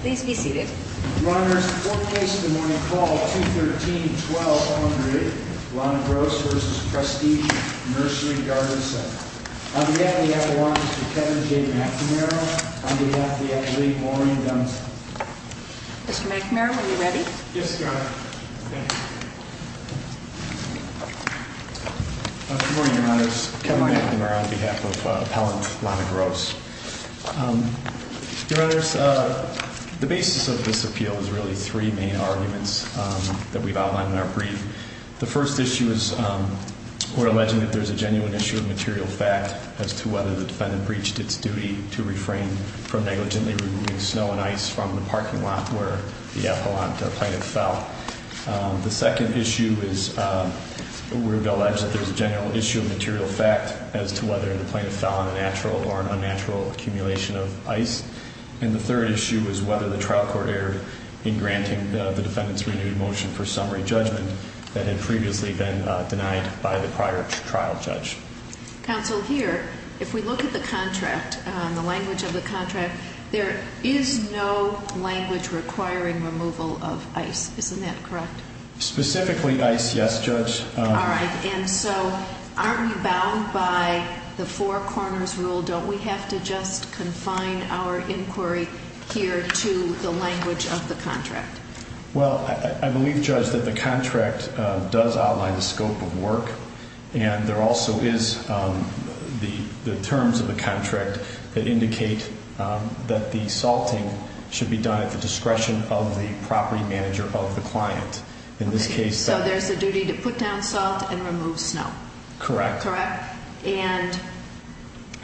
Please be seated. Your Honors, the formal case of the morning, Call 213-1200, Lana Gross v. Prestige Nursery Garden Center. On behalf of the Appellant, Mr. Kevin J. McNamara. On behalf of the Academy, Maureen Dunst. Mr. McNamara, are you ready? Yes, Your Honor. Good morning, Your Honors. Kevin McNamara on behalf of Appellant Lana Gross. Your Honors, the basis of this appeal is really three main arguments that we've outlined in our brief. The first issue is we're alleging that there's a genuine issue of material fact as to whether the defendant breached its duty to refrain from negligently removing snow and ice from the parking lot where the Appellant plaintiff fell. The second issue is we're alleging that there's a general issue of material fact as to whether the plaintiff fell on a natural or an unnatural accumulation of ice. And the third issue is whether the trial court erred in granting the defendant's renewed motion for summary judgment that had previously been denied by the prior trial judge. Counsel, here, if we look at the contract, the language of the contract, there is no language requiring removal of ice. Isn't that correct? Specifically ice, yes, Judge. All right. And so aren't we bound by the four corners rule? Don't we have to just confine our inquiry here to the language of the contract? Well, I believe, Judge, that the contract does outline the scope of work, and there also is the terms of the contract that indicate that the salting should be done at the discretion of the property manager of the client. In this case- So there's a duty to put down salt and remove snow. Correct. Correct. And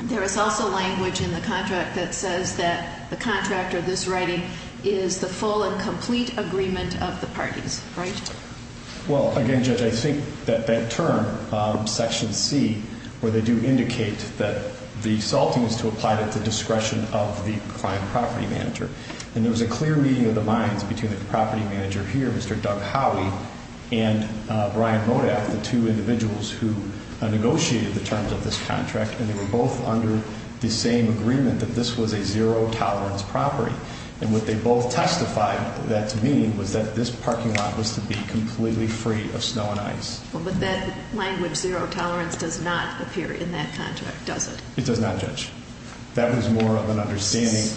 there is also language in the contract that says that the contract or this writing is the full and complete agreement of the parties, right? Well, again, Judge, I think that that term, Section C, where they do indicate that the salting is to apply at the discretion of the client property manager, and there was a clear meeting of the minds between the property manager here, Mr. Doug Howey, and Brian Modaff, the two individuals who negotiated the terms of this contract, and they were both under the same agreement that this was a zero-tolerance property. And what they both testified that to mean was that this parking lot was to be completely free of snow and ice. Well, but that language, zero tolerance, does not appear in that contract, does it? It does not, Judge. That was more of an understanding-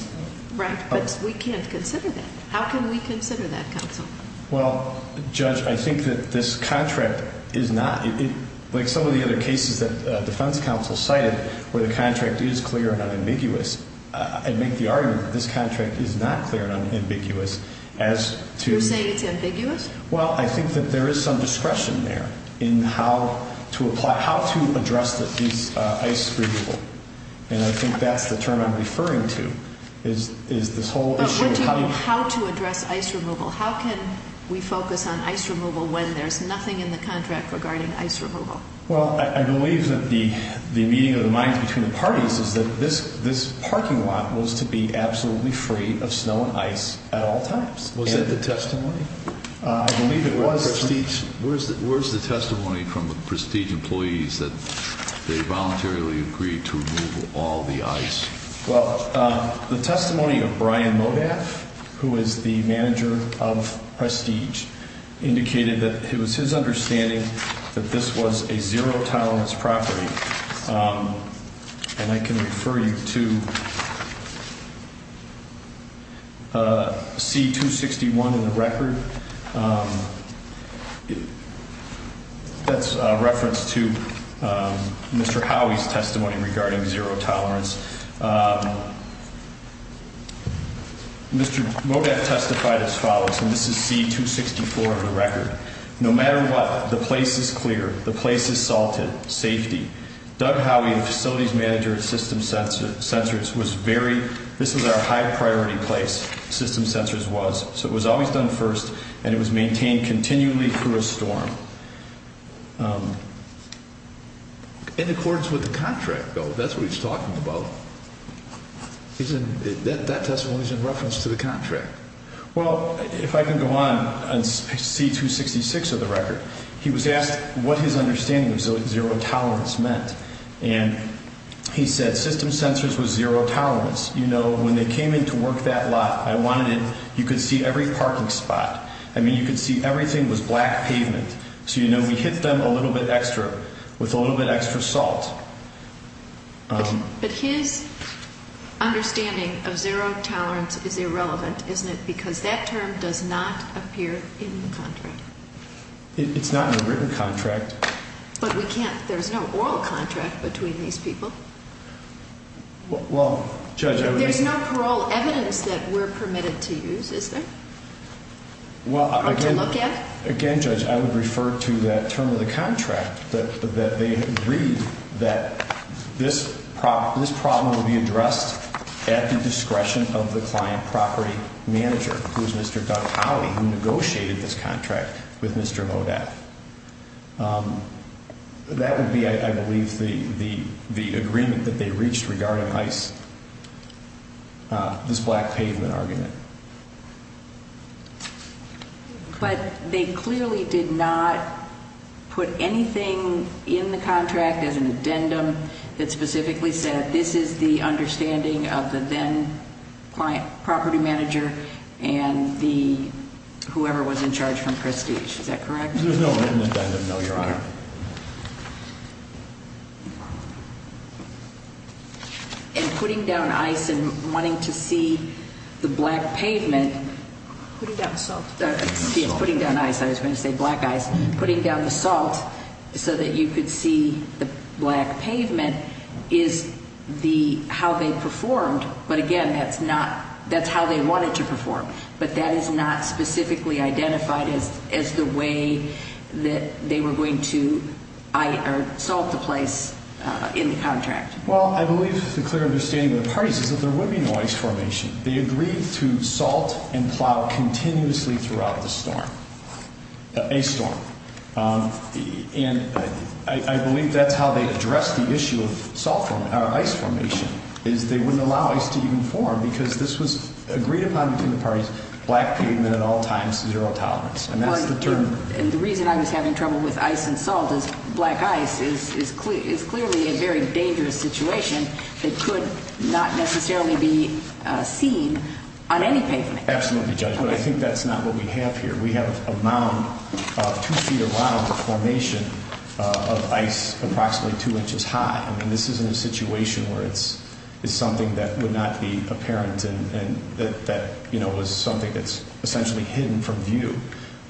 Right, but we can't consider that. How can we consider that, Counsel? Well, Judge, I think that this contract is not-like some of the other cases that defense counsel cited where the contract is clear and unambiguous, I'd make the argument that this contract is not clear and unambiguous as to- You're saying it's ambiguous? Well, I think that there is some discretion there in how to apply-how to address this ice removal, and I think that's the term I'm referring to, is this whole issue of- But what do you mean how to address ice removal? How can we focus on ice removal when there's nothing in the contract regarding ice removal? Well, I believe that the meeting of the minds between the parties is that this parking lot was to be absolutely free of snow and ice at all times. Was that the testimony? I believe it was. Where's the testimony from the Prestige employees that they voluntarily agreed to remove all the ice? Well, the testimony of Brian Modaff, who is the manager of Prestige, indicated that it was his understanding that this was a zero-tolerance property, and I can refer you to C-261 in the record. That's a reference to Mr. Howey's testimony regarding zero-tolerance. Mr. Modaff testified as follows, and this is C-264 in the record. No matter what, the place is clear. The place is salted. Doug Howey, the facilities manager at System Sensors, was very-this was our high-priority place, System Sensors was, so it was always done first, and it was maintained continually through a storm. In accordance with the contract, though. That's what he's talking about. That testimony is in reference to the contract. Well, if I can go on, on C-266 of the record, he was asked what his understanding of zero-tolerance meant, and he said System Sensors was zero-tolerance. You know, when they came in to work that lot, I wanted it-you could see every parking spot. I mean, you could see everything was black pavement, so you know, we hit them a little bit extra, with a little bit extra salt. But his understanding of zero-tolerance is irrelevant, isn't it? Because that term does not appear in the contract. It's not in the written contract. But we can't-there's no oral contract between these people. Well, Judge, I would- There's no parole evidence that we're permitted to use, is there? Or to look at? Again, Judge, I would refer to that term of the contract, that they agreed that this problem would be addressed at the discretion of the client property manager, who is Mr. Doug Howley, who negotiated this contract with Mr. Modath. That would be, I believe, the agreement that they reached regarding ICE, this black pavement argument. But they clearly did not put anything in the contract as an addendum that specifically said, this is the understanding of the then-client property manager and the-whoever was in charge from Prestige. Is that correct? There's no written addendum, no, Your Honor. And putting down ICE and wanting to see the black pavement- Putting down salt. Putting down ICE. I was going to say black ice. Putting down the salt so that you could see the black pavement is the-how they performed. But, again, that's not-that's how they wanted to perform. But that is not specifically identified as the way that they were going to salt the place in the contract. Well, I believe the clear understanding of the parties is that there would be no ice formation. They agreed to salt and plow continuously throughout the storm, a storm. And I believe that's how they addressed the issue of salt formation, or ice formation, is they wouldn't allow ice to even form because this was agreed upon between the parties, black pavement at all times, zero tolerance. And that's the term- And the reason I was having trouble with ice and salt is black ice is clearly a very dangerous situation that could not necessarily be seen on any pavement. Absolutely, Judge. But I think that's not what we have here. We have a mound, a two-feet of mound of formation of ice approximately two inches high. I mean, this isn't a situation where it's something that would not be apparent and that, you know, was something that's essentially hidden from view.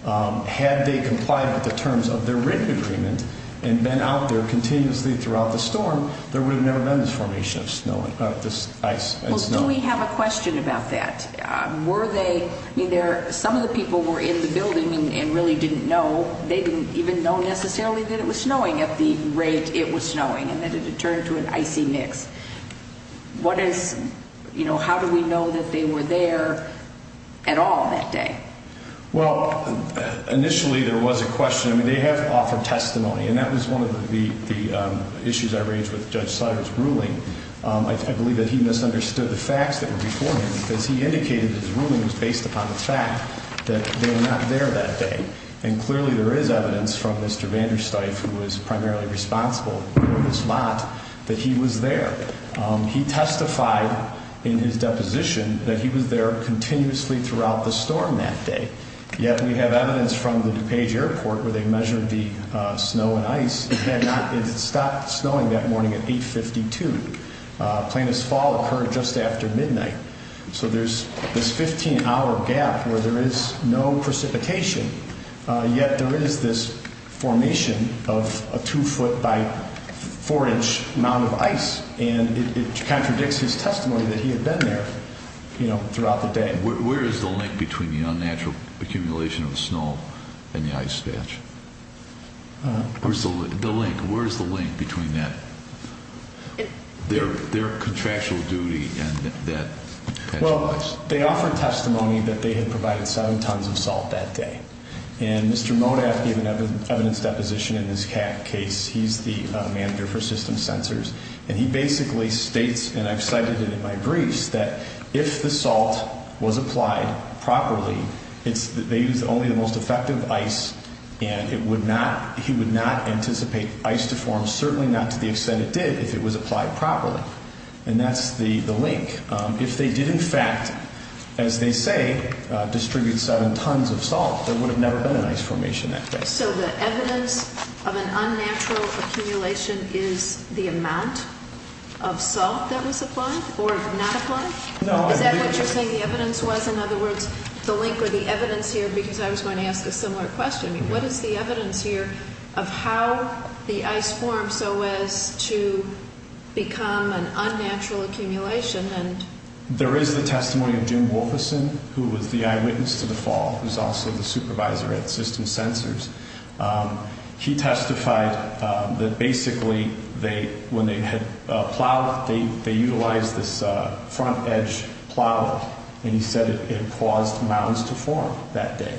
Had they complied with the terms of their written agreement and been out there continuously throughout the storm, there would have never been this formation of snow-of this ice and snow. Well, do we have a question about that? Were they-I mean, some of the people were in the building and really didn't know. They didn't even know necessarily that it was snowing at the rate it was snowing and that it had turned to an icy mix. What is-you know, how do we know that they were there at all that day? Well, initially there was a question. I mean, they have offered testimony, and that was one of the issues I raised with Judge Seider's ruling. I believe that he misunderstood the facts that were before him because he indicated his ruling was based upon the fact that they were not there that day. And clearly there is evidence from Mr. Vandersteif, who was primarily responsible for this lot, that he was there. He testified in his deposition that he was there continuously throughout the storm that day. Yet we have evidence from the DuPage Airport where they measured the snow and ice. It had not-it stopped snowing that morning at 852. Plaintiff's fall occurred just after midnight. So there's this 15-hour gap where there is no precipitation, yet there is this formation of a 2-foot by 4-inch mound of ice, and it contradicts his testimony that he had been there, you know, throughout the day. Where is the link between the unnatural accumulation of snow and the ice patch? Where's the link? Where's the link between that-their contractual duty and that patch of ice? Well, they offered testimony that they had provided 7 tons of salt that day, and Mr. Modaff gave an evidence deposition in this case. He's the manager for system sensors, and he basically states, and I've cited it in my briefs, that if the salt was applied properly, it's-they use only the most effective ice, and it would not-he would not anticipate ice to form, certainly not to the extent it did if it was applied properly. And that's the link. If they did, in fact, as they say, distribute 7 tons of salt, there would have never been an ice formation that day. So the evidence of an unnatural accumulation is the amount of salt that was applied or not applied? No, I believe- Is that what you're saying the evidence was? In other words, the link or the evidence here, because I was going to ask a similar question. What is the evidence here of how the ice formed so as to become an unnatural accumulation and- There is the testimony of Jim Wolferson, who was the eyewitness to the fall, who's also the supervisor at system sensors. He testified that basically they-when they had plowed, they utilized this front edge plow, and he said it caused mounds to form that day.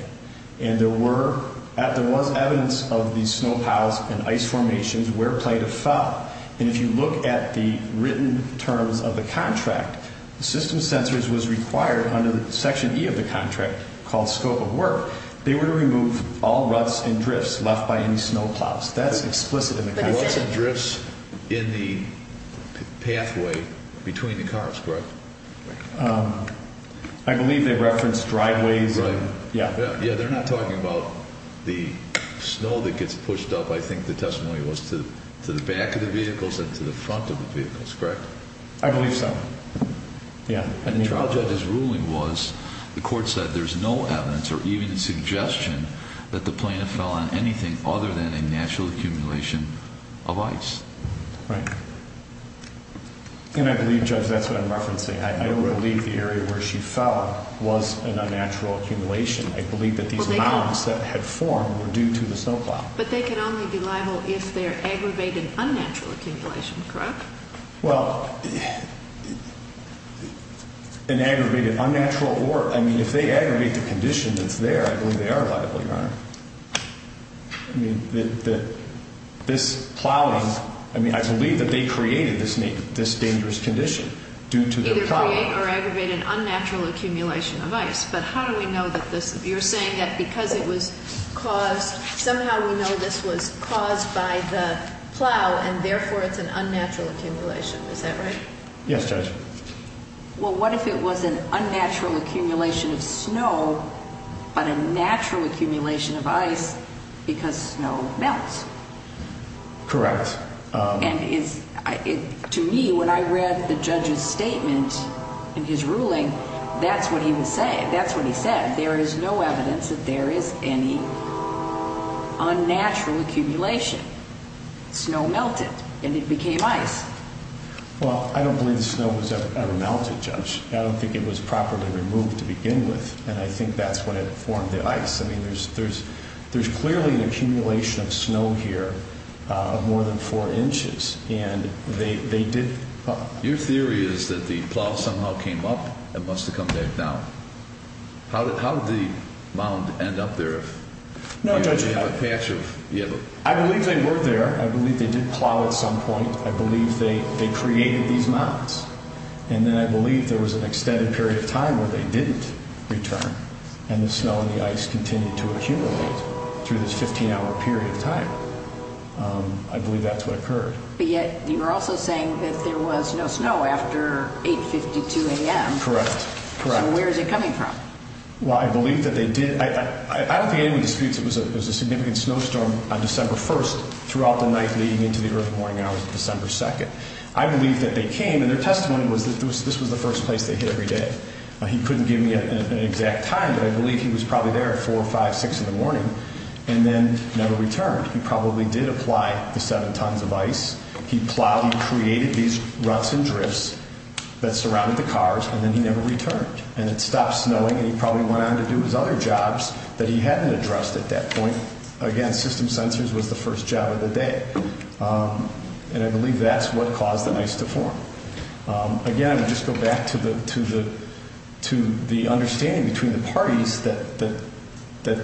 And there were-there was evidence of these snow piles and ice formations where Plato fell, and if you look at the written terms of the contract, the system sensors was required under Section E of the contract called scope of work. They were to remove all ruts and drifts left by any snow plows. That's explicit in the contract. Ruts and drifts in the pathway between the cars, correct? I believe they referenced driveways and- Right. Yeah. Yeah, they're not talking about the snow that gets pushed up, I think the testimony was, to the back of the vehicles and to the front of the vehicles, correct? I believe so. Yeah. And the trial judge's ruling was the court said there's no evidence or even suggestion that the plaintiff fell on anything other than a natural accumulation of ice. Right. And I believe, Judge, that's what I'm referencing. I believe the area where she fell was an unnatural accumulation. I believe that these mounds that had formed were due to the snow plow. But they can only be liable if they're aggravated unnatural accumulation, correct? Well, an aggravated unnatural or, I mean, if they aggravate the condition that's there, I believe they are liable, Your Honor. I mean, this plowing, I mean, I believe that they created this dangerous condition due to their plowing. Either create or aggravate an unnatural accumulation of ice. But how do we know that this, you're saying that because it was caused, somehow we know this was caused by the plow and, therefore, it's an unnatural accumulation. Is that right? Yes, Judge. Well, what if it was an unnatural accumulation of snow but a natural accumulation of ice because snow melts? Correct. And to me, when I read the judge's statement in his ruling, that's what he was saying. Unnatural accumulation. Snow melted and it became ice. Well, I don't believe the snow was ever melted, Judge. I don't think it was properly removed to begin with, and I think that's what had formed the ice. I mean, there's clearly an accumulation of snow here of more than four inches, and they did… Your theory is that the plow somehow came up and must have come back down. How did the mound end up there? No, Judge, I believe they were there. I believe they did plow at some point. I believe they created these mounds, and then I believe there was an extended period of time where they didn't return, and the snow and the ice continued to accumulate through this 15-hour period of time. I believe that's what occurred. But yet, you're also saying that there was no snow after 8.52 a.m. Correct. So where is it coming from? Well, I believe that they did. I don't think anyone disputes it was a significant snowstorm on December 1st throughout the night leading into the early morning hours of December 2nd. I believe that they came, and their testimony was that this was the first place they hit every day. He couldn't give me an exact time, but I believe he was probably there at 4, 5, 6 in the morning and then never returned. He probably did apply the seven tons of ice. He plowed, he created these ruts and drifts that surrounded the cars, and then he never returned. And it stopped snowing, and he probably went on to do his other jobs that he hadn't addressed at that point. Again, system sensors was the first job of the day. And I believe that's what caused the ice to form. Again, just go back to the understanding between the parties that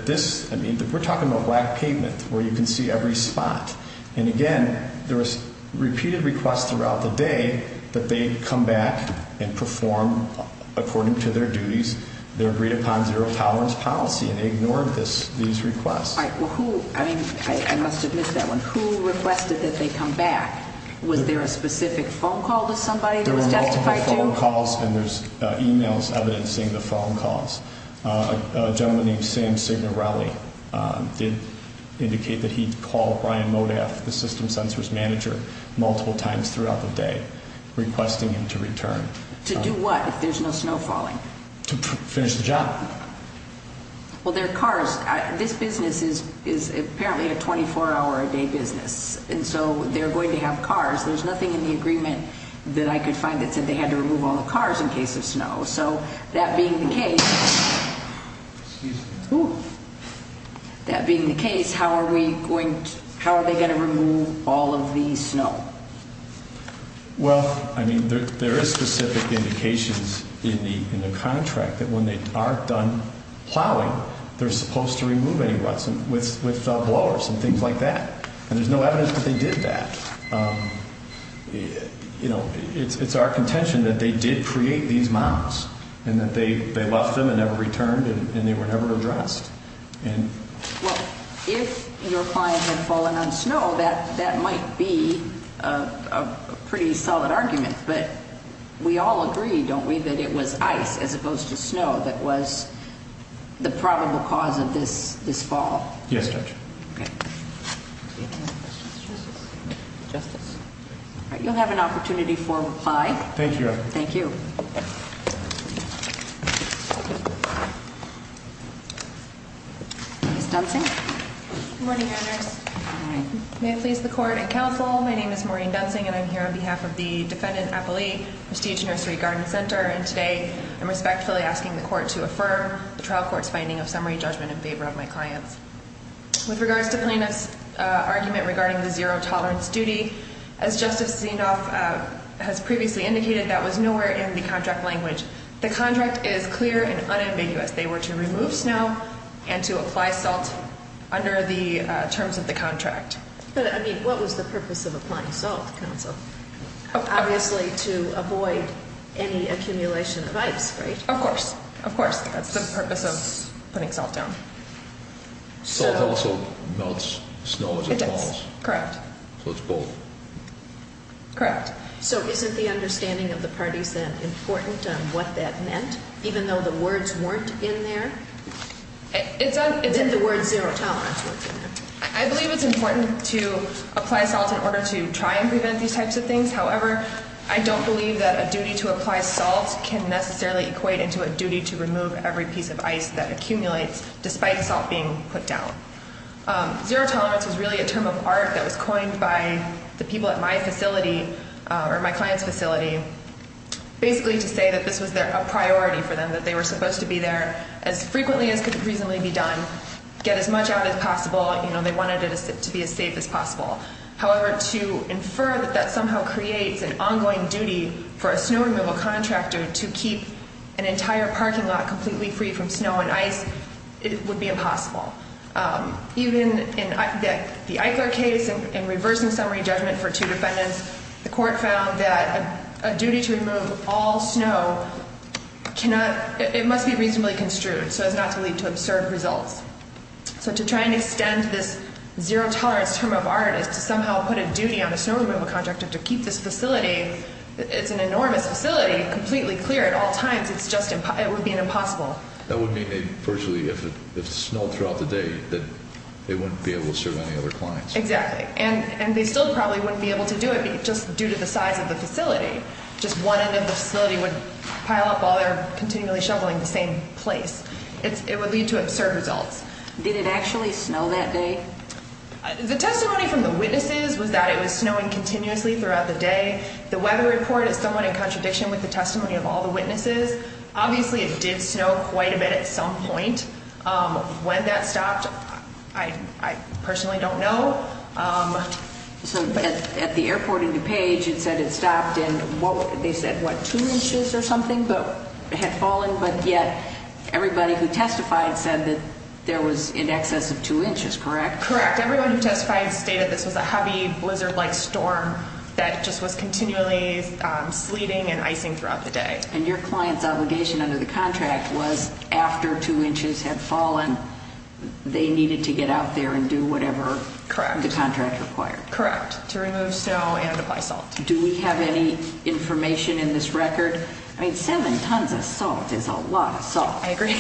this, I mean, we're talking about black pavement where you can see every spot. And again, there was repeated requests throughout the day that they come back and perform according to their duties. They agreed upon zero tolerance policy, and they ignored these requests. All right. Well, who, I mean, I must admit to that one. Who requested that they come back? Was there a specific phone call to somebody that was testified to? There were multiple phone calls, and there's e-mails evidencing the phone calls. A gentleman named Sam Signorelli did indicate that he called Brian Modaff, the system sensors manager, multiple times throughout the day requesting him to return. To do what if there's no snow falling? To finish the job. Well, there are cars. This business is apparently a 24-hour-a-day business, and so they're going to have cars. There's nothing in the agreement that I could find that said they had to remove all the cars in case of snow. So that being the case, how are they going to remove all of the snow? Well, I mean, there is specific indications in the contract that when they are done plowing, they're supposed to remove any ruts with blowers and things like that. And there's no evidence that they did that. You know, it's our contention that they did create these mounds and that they left them and never returned and they were never addressed. Well, if your client had fallen on snow, that might be a pretty solid argument, but we all agree, don't we, that it was ice as opposed to snow that was the probable cause of this fall? Yes, Judge. Okay. Any other questions? Justice. All right, you'll have an opportunity for a reply. Thank you, Your Honor. Thank you. Ms. Dunsing. Good morning, Your Honors. Good morning. May it please the Court and Counsel, my name is Maureen Dunsing, and I'm here on behalf of the defendant appellee, Prestige Nursery Garden Center, and today I'm respectfully asking the Court to affirm the trial court's finding of summary judgment in favor of my clients. With regards to plaintiff's argument regarding the zero tolerance duty, as Justice Zinoff has previously indicated, that was nowhere in the contract language. The contract is clear and unambiguous. They were to remove snow and to apply salt under the terms of the contract. But, I mean, what was the purpose of applying salt, Counsel? Obviously to avoid any accumulation of ice, right? Of course. Of course. That's the purpose of putting salt down. Salt also melts snow as it falls. Correct. So it's both. Correct. So isn't the understanding of the parties then important on what that meant, even though the words weren't in there? It's in the words zero tolerance weren't in there. I believe it's important to apply salt in order to try and prevent these types of things. However, I don't believe that a duty to apply salt can necessarily equate into a duty to remove every piece of ice that accumulates despite salt being put down. Zero tolerance was really a term of art that was coined by the people at my facility or my client's facility, basically to say that this was a priority for them, that they were supposed to be there as frequently as could reasonably be done, get as much out as possible. They wanted it to be as safe as possible. However, to infer that that somehow creates an ongoing duty for a snow removal contractor to keep an entire parking lot completely free from snow and ice would be impossible. Even in the Eichler case, in reversing summary judgment for two defendants, the court found that a duty to remove all snow must be reasonably construed so as not to lead to absurd results. So to try and extend this zero tolerance term of art is to somehow put a duty on a snow removal contractor to keep this facility, it's an enormous facility, completely clear at all times. It would be impossible. That would mean virtually if it snowed throughout the day that they wouldn't be able to serve any other clients. Exactly. And they still probably wouldn't be able to do it just due to the size of the facility. Just one end of the facility would pile up while they're continually shoveling the same place. It would lead to absurd results. Did it actually snow that day? The testimony from the witnesses was that it was snowing continuously throughout the day. The weather report is somewhat in contradiction with the testimony of all the witnesses. Obviously, it did snow quite a bit at some point. When that stopped, I personally don't know. So at the airport in DuPage, it said it stopped and they said, what, two inches or something had fallen? But yet everybody who testified said that there was in excess of two inches, correct? Correct. Everyone who testified stated this was a heavy blizzard-like storm that just was continually sleeting and icing throughout the day. And your client's obligation under the contract was after two inches had fallen, they needed to get out there and do whatever the contract required. Correct. To remove snow and apply salt. Do we have any information in this record? I mean, seven tons of salt is a lot of salt. I agree.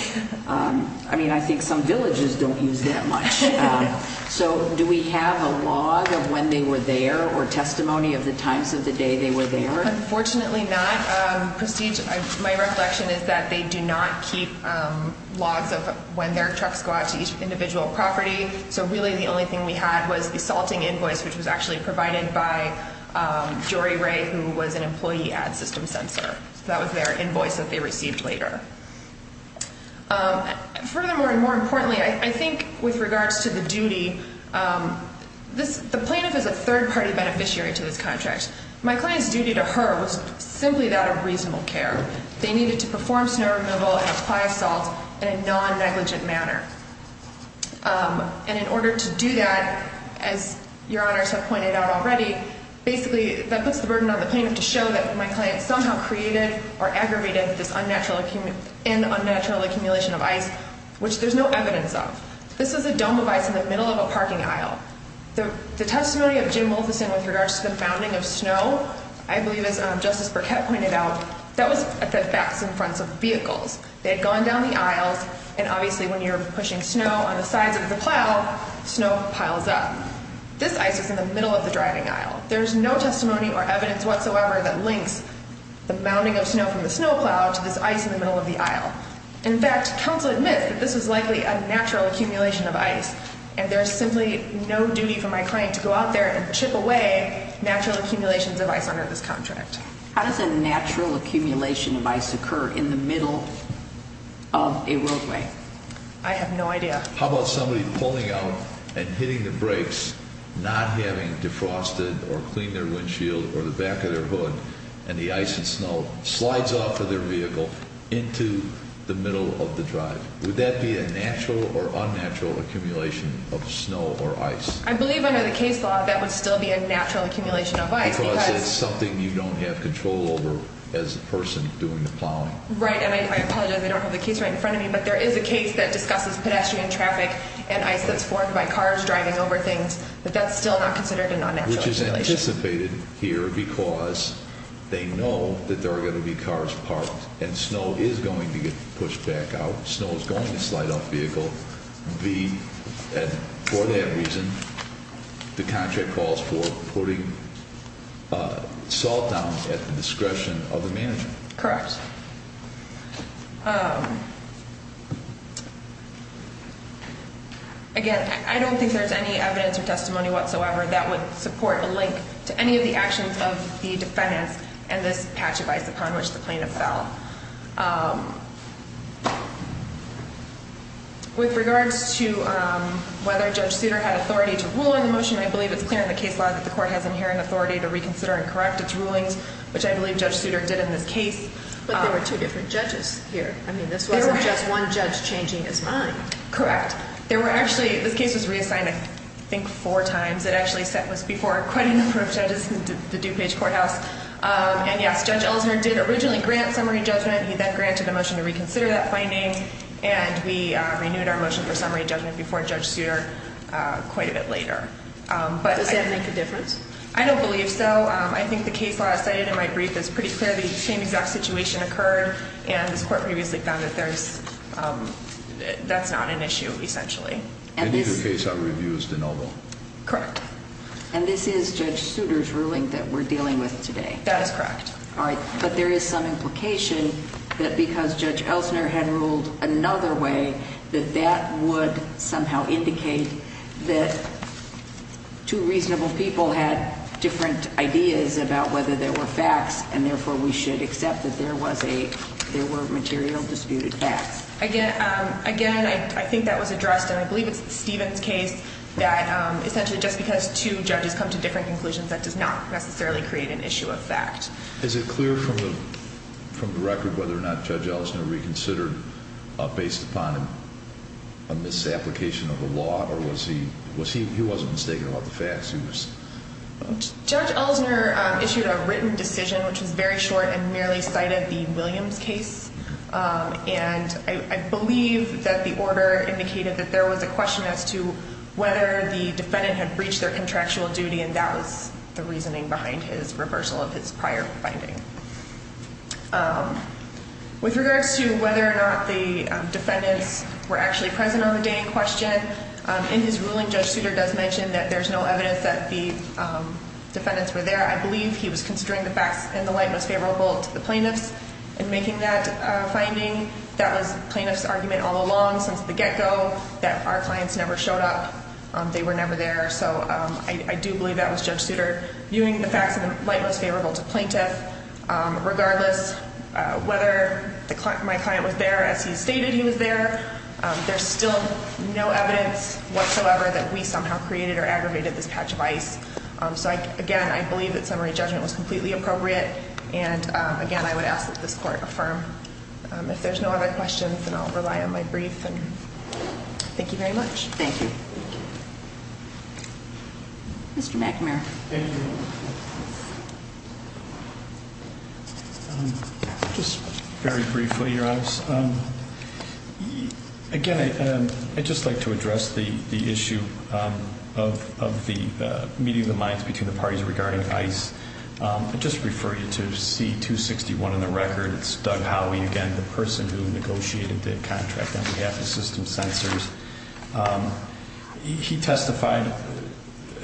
I mean, I think some villages don't use that much. So do we have a log of when they were there or testimony of the times of the day they were there? Unfortunately not. My reflection is that they do not keep logs of when their trucks go out to each individual property. So really the only thing we had was the salting invoice, which was actually provided by Jory Ray, who was an employee at System Sensor. That was their invoice that they received later. Furthermore and more importantly, I think with regards to the duty, the plaintiff is a third-party beneficiary to this contract. My client's duty to her was simply that of reasonable care. They needed to perform snow removal and apply salt in a non-negligent manner. And in order to do that, as Your Honors have pointed out already, basically that puts the burden on the plaintiff to show that my client somehow created or aggravated this unnatural accumulation of ice, which there's no evidence of. This is a dome of ice in the middle of a parking aisle. The testimony of Jim Malthuson with regards to the mounding of snow, I believe as Justice Burkett pointed out, that was at the backs and fronts of vehicles. They had gone down the aisles, and obviously when you're pushing snow on the sides of the plow, snow piles up. This ice is in the middle of the driving aisle. There's no testimony or evidence whatsoever that links the mounding of snow from the snow plow to this ice in the middle of the aisle. In fact, counsel admits that this was likely a natural accumulation of ice. And there's simply no duty for my client to go out there and chip away natural accumulations of ice under this contract. How does a natural accumulation of ice occur in the middle of a roadway? I have no idea. How about somebody pulling out and hitting the brakes, not having defrosted or cleaned their windshield or the back of their hood, and the ice and snow slides off of their vehicle into the middle of the drive. Would that be a natural or unnatural accumulation of snow or ice? I believe under the case law that would still be a natural accumulation of ice because— Because it's something you don't have control over as a person doing the plowing. Right. And I apologize. I don't have the case right in front of me. But there is a case that discusses pedestrian traffic and ice that's formed by cars driving over things. But that's still not considered a natural accumulation. Which is anticipated here because they know that there are going to be cars parked and snow is going to get pushed back out. Snow is going to slide off the vehicle. And for that reason, the contract calls for putting salt down at the discretion of the manager. Correct. Again, I don't think there's any evidence or testimony whatsoever that would support a link to any of the actions of the defendants and this patch of ice upon which the plaintiff fell. With regards to whether Judge Souter had authority to rule in the motion, I believe it's clear in the case law that the court has inherent authority to reconsider and correct its rulings, which I believe Judge Souter did in this case. But there were two different judges here. I mean, this wasn't just one judge changing his mind. Correct. This case was reassigned, I think, four times. It actually was before quite a number of judges in the DuPage courthouse. And yes, Judge Ellison did originally grant summary judgment. He then granted a motion to reconsider that finding. And we renewed our motion for summary judgment before Judge Souter quite a bit later. Does that make a difference? I don't believe so. I think the case law cited in my brief is pretty clear the same exact situation occurred and this court previously found that that's not an issue, essentially. And neither case I would review is de novo. Correct. And this is Judge Souter's ruling that we're dealing with today? That is correct. All right. But there is some implication that because Judge Ellison had ruled another way, that that would somehow indicate that two reasonable people had different ideas about whether there were facts and therefore we should accept that there were material disputed facts. Again, I think that was addressed, and I believe it's Stephen's case, that essentially just because two judges come to different conclusions, that does not necessarily create an issue of fact. Is it clear from the record whether or not Judge Ellison reconsidered based upon a misapplication of the law, or he wasn't mistaken about the facts? Judge Ellison issued a written decision which was very short and merely cited the Williams case. And I believe that the order indicated that there was a question as to whether the defendant had breached their contractual duty, and that was the reasoning behind his reversal of his prior finding. With regards to whether or not the defendants were actually present on the day in question, in his ruling Judge Souter does mention that there's no evidence that the defendants were there. I believe he was considering the facts in the light most favorable to the plaintiffs in making that finding. That was the plaintiff's argument all along since the get-go, that our clients never showed up, they were never there. So I do believe that was Judge Souter viewing the facts in the light most favorable to plaintiff. Regardless whether my client was there as he stated he was there, there's still no evidence whatsoever that we somehow created or aggravated this patch of ice. So, again, I believe that summary judgment was completely appropriate. And, again, I would ask that this court affirm. If there's no other questions, then I'll rely on my brief. Thank you very much. Thank you. Mr. McNamara. Thank you. Just very briefly, Your Honor. Again, I'd just like to address the issue of the meeting of the minds between the parties regarding ICE. I'd just refer you to C-261 in the record. It's Doug Howey, again, the person who negotiated the contract on behalf of System Sensors. He testified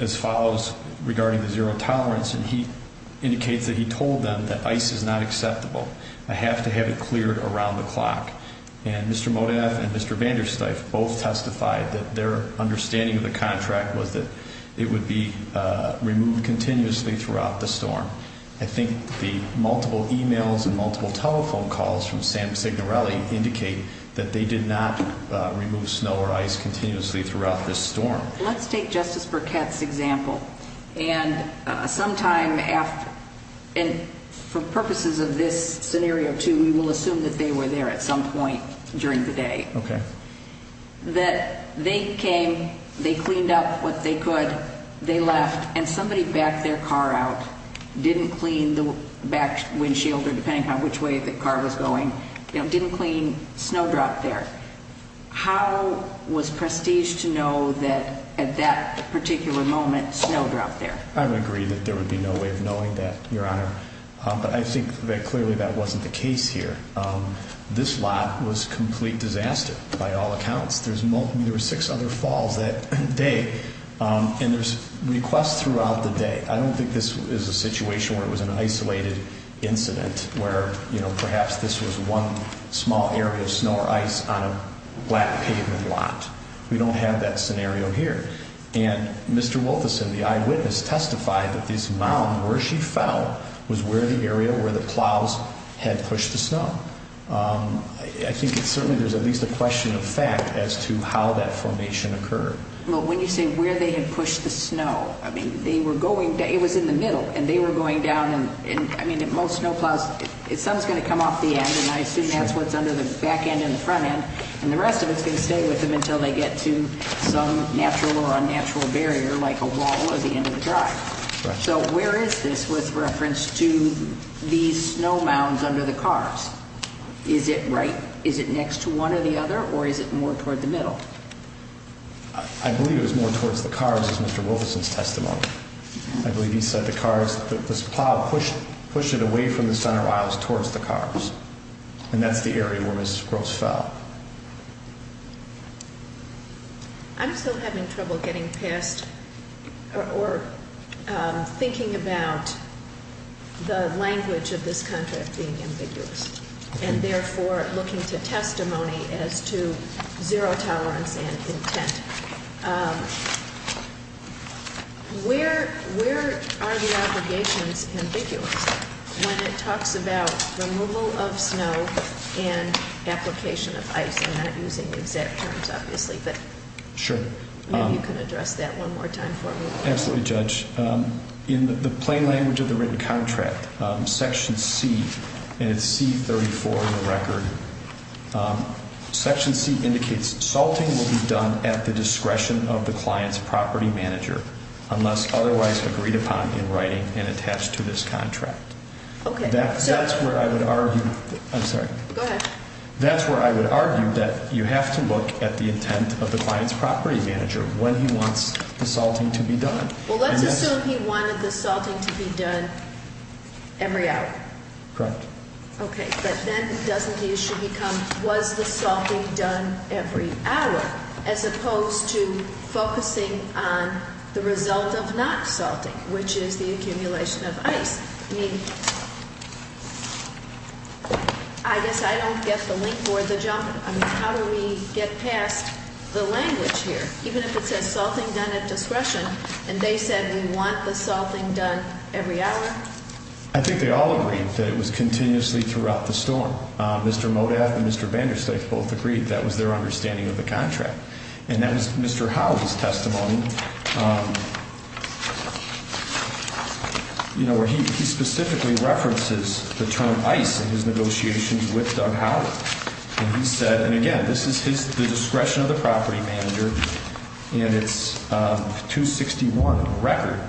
as follows regarding the zero tolerance. And he indicates that he told them that ICE is not acceptable. I have to have it cleared around the clock. And Mr. Modaff and Mr. Vandersteif both testified that their understanding of the contract was that it would be removed continuously throughout the storm. I think the multiple e-mails and multiple telephone calls from Sam Signorelli indicate that they did not remove snow or ice continuously throughout this storm. Let's take Justice Burkett's example. And sometime after – and for purposes of this scenario, too, we will assume that they were there at some point during the day. Okay. That they came, they cleaned up what they could, they left, and somebody backed their car out, didn't clean the back windshield or depending on which way the car was going, didn't clean snowdrop there. How was Prestige to know that at that particular moment, snow dropped there? I would agree that there would be no way of knowing that, Your Honor. But I think that clearly that wasn't the case here. This lot was a complete disaster by all accounts. There were six other falls that day. And there's requests throughout the day. I don't think this is a situation where it was an isolated incident where, you know, perhaps this was one small area of snow or ice on a flat pavement lot. We don't have that scenario here. And Mr. Wolterson, the eyewitness, testified that this mound where she fell was where the area where the plows had pushed the snow. I think certainly there's at least a question of fact as to how that formation occurred. Well, when you say where they had pushed the snow, I mean, they were going – it was in the middle, and they were going down. And, I mean, most snow plows, some is going to come off the end, and I assume that's what's under the back end and the front end. And the rest of it is going to stay with them until they get to some natural or unnatural barrier like a wall at the end of the drive. So where is this with reference to these snow mounds under the cars? Is it right – is it next to one or the other, or is it more toward the middle? I believe it was more towards the cars, as Mr. Wolterson's testimony. I believe he said the cars – this plow pushed it away from the center aisles towards the cars. And that's the area where Mrs. Gross fell. I'm still having trouble getting past or thinking about the language of this contract being ambiguous and therefore looking to testimony as to zero tolerance and intent. Where are the obligations ambiguous when it talks about removal of snow and application of ice? I'm not using the exact terms, obviously, but maybe you can address that one more time for me. Absolutely, Judge. In the plain language of the written contract, Section C – and it's C-34 in the record – Section C indicates salting will be done at the discretion of the client's property manager unless otherwise agreed upon in writing and attached to this contract. Okay. That's where I would argue – I'm sorry. Go ahead. That's where I would argue that you have to look at the intent of the client's property manager when he wants the salting to be done. Well, let's assume he wanted the salting to be done every hour. Correct. Okay. But then doesn't he – should he come – was the salting done every hour as opposed to focusing on the result of not salting, which is the accumulation of ice? I mean, I guess I don't get the link or the jump. I mean, how do we get past the language here? Even if it says salting done at discretion and they said we want the salting done every hour? I think they all agreed that it was continuously throughout the storm. Mr. Modath and Mr. Vandersteif both agreed that was their understanding of the contract. And that was Mr. Howell's testimony, you know, where he specifically references the term ice in his negotiations with Doug Howell. And he said – and, again, this is his – the discretion of the property manager, and it's 261 on the record.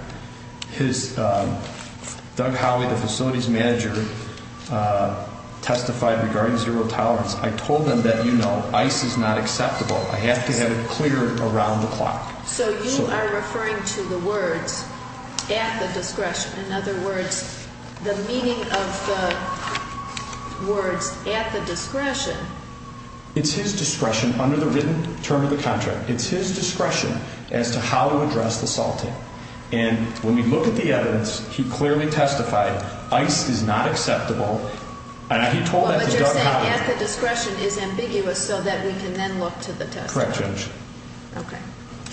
His – Doug Howell, the facility's manager, testified regarding zero tolerance. I told them that, you know, ice is not acceptable. I have to have it cleared around the clock. So you are referring to the words at the discretion. In other words, the meaning of the words at the discretion. It's his discretion under the written term of the contract. It's his discretion as to how to address the salting. And when we look at the evidence, he clearly testified ice is not acceptable. And he told that to Doug Howell. But you're saying at the discretion is ambiguous so that we can then look to the testimony. Correct, Judge. Okay.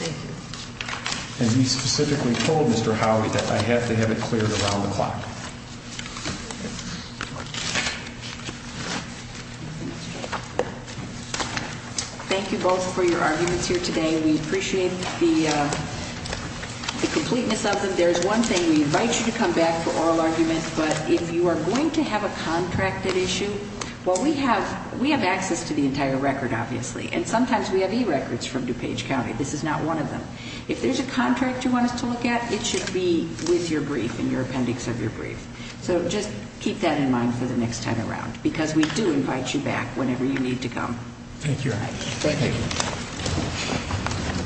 Thank you. And he specifically told Mr. Howell that I have to have it cleared around the clock. Thank you both for your arguments here today. We appreciate the completeness of them. There is one thing. We invite you to come back for oral arguments. But if you are going to have a contracted issue, well, we have access to the entire record, obviously. And sometimes we have e-records from DuPage County. This is not one of them. If there's a contract you want us to look at, it should be with your brief and your appendix of your brief. So just keep that in mind for the next time around because we do invite you back whenever you need to come. Thank you, Your Honor. Thank you.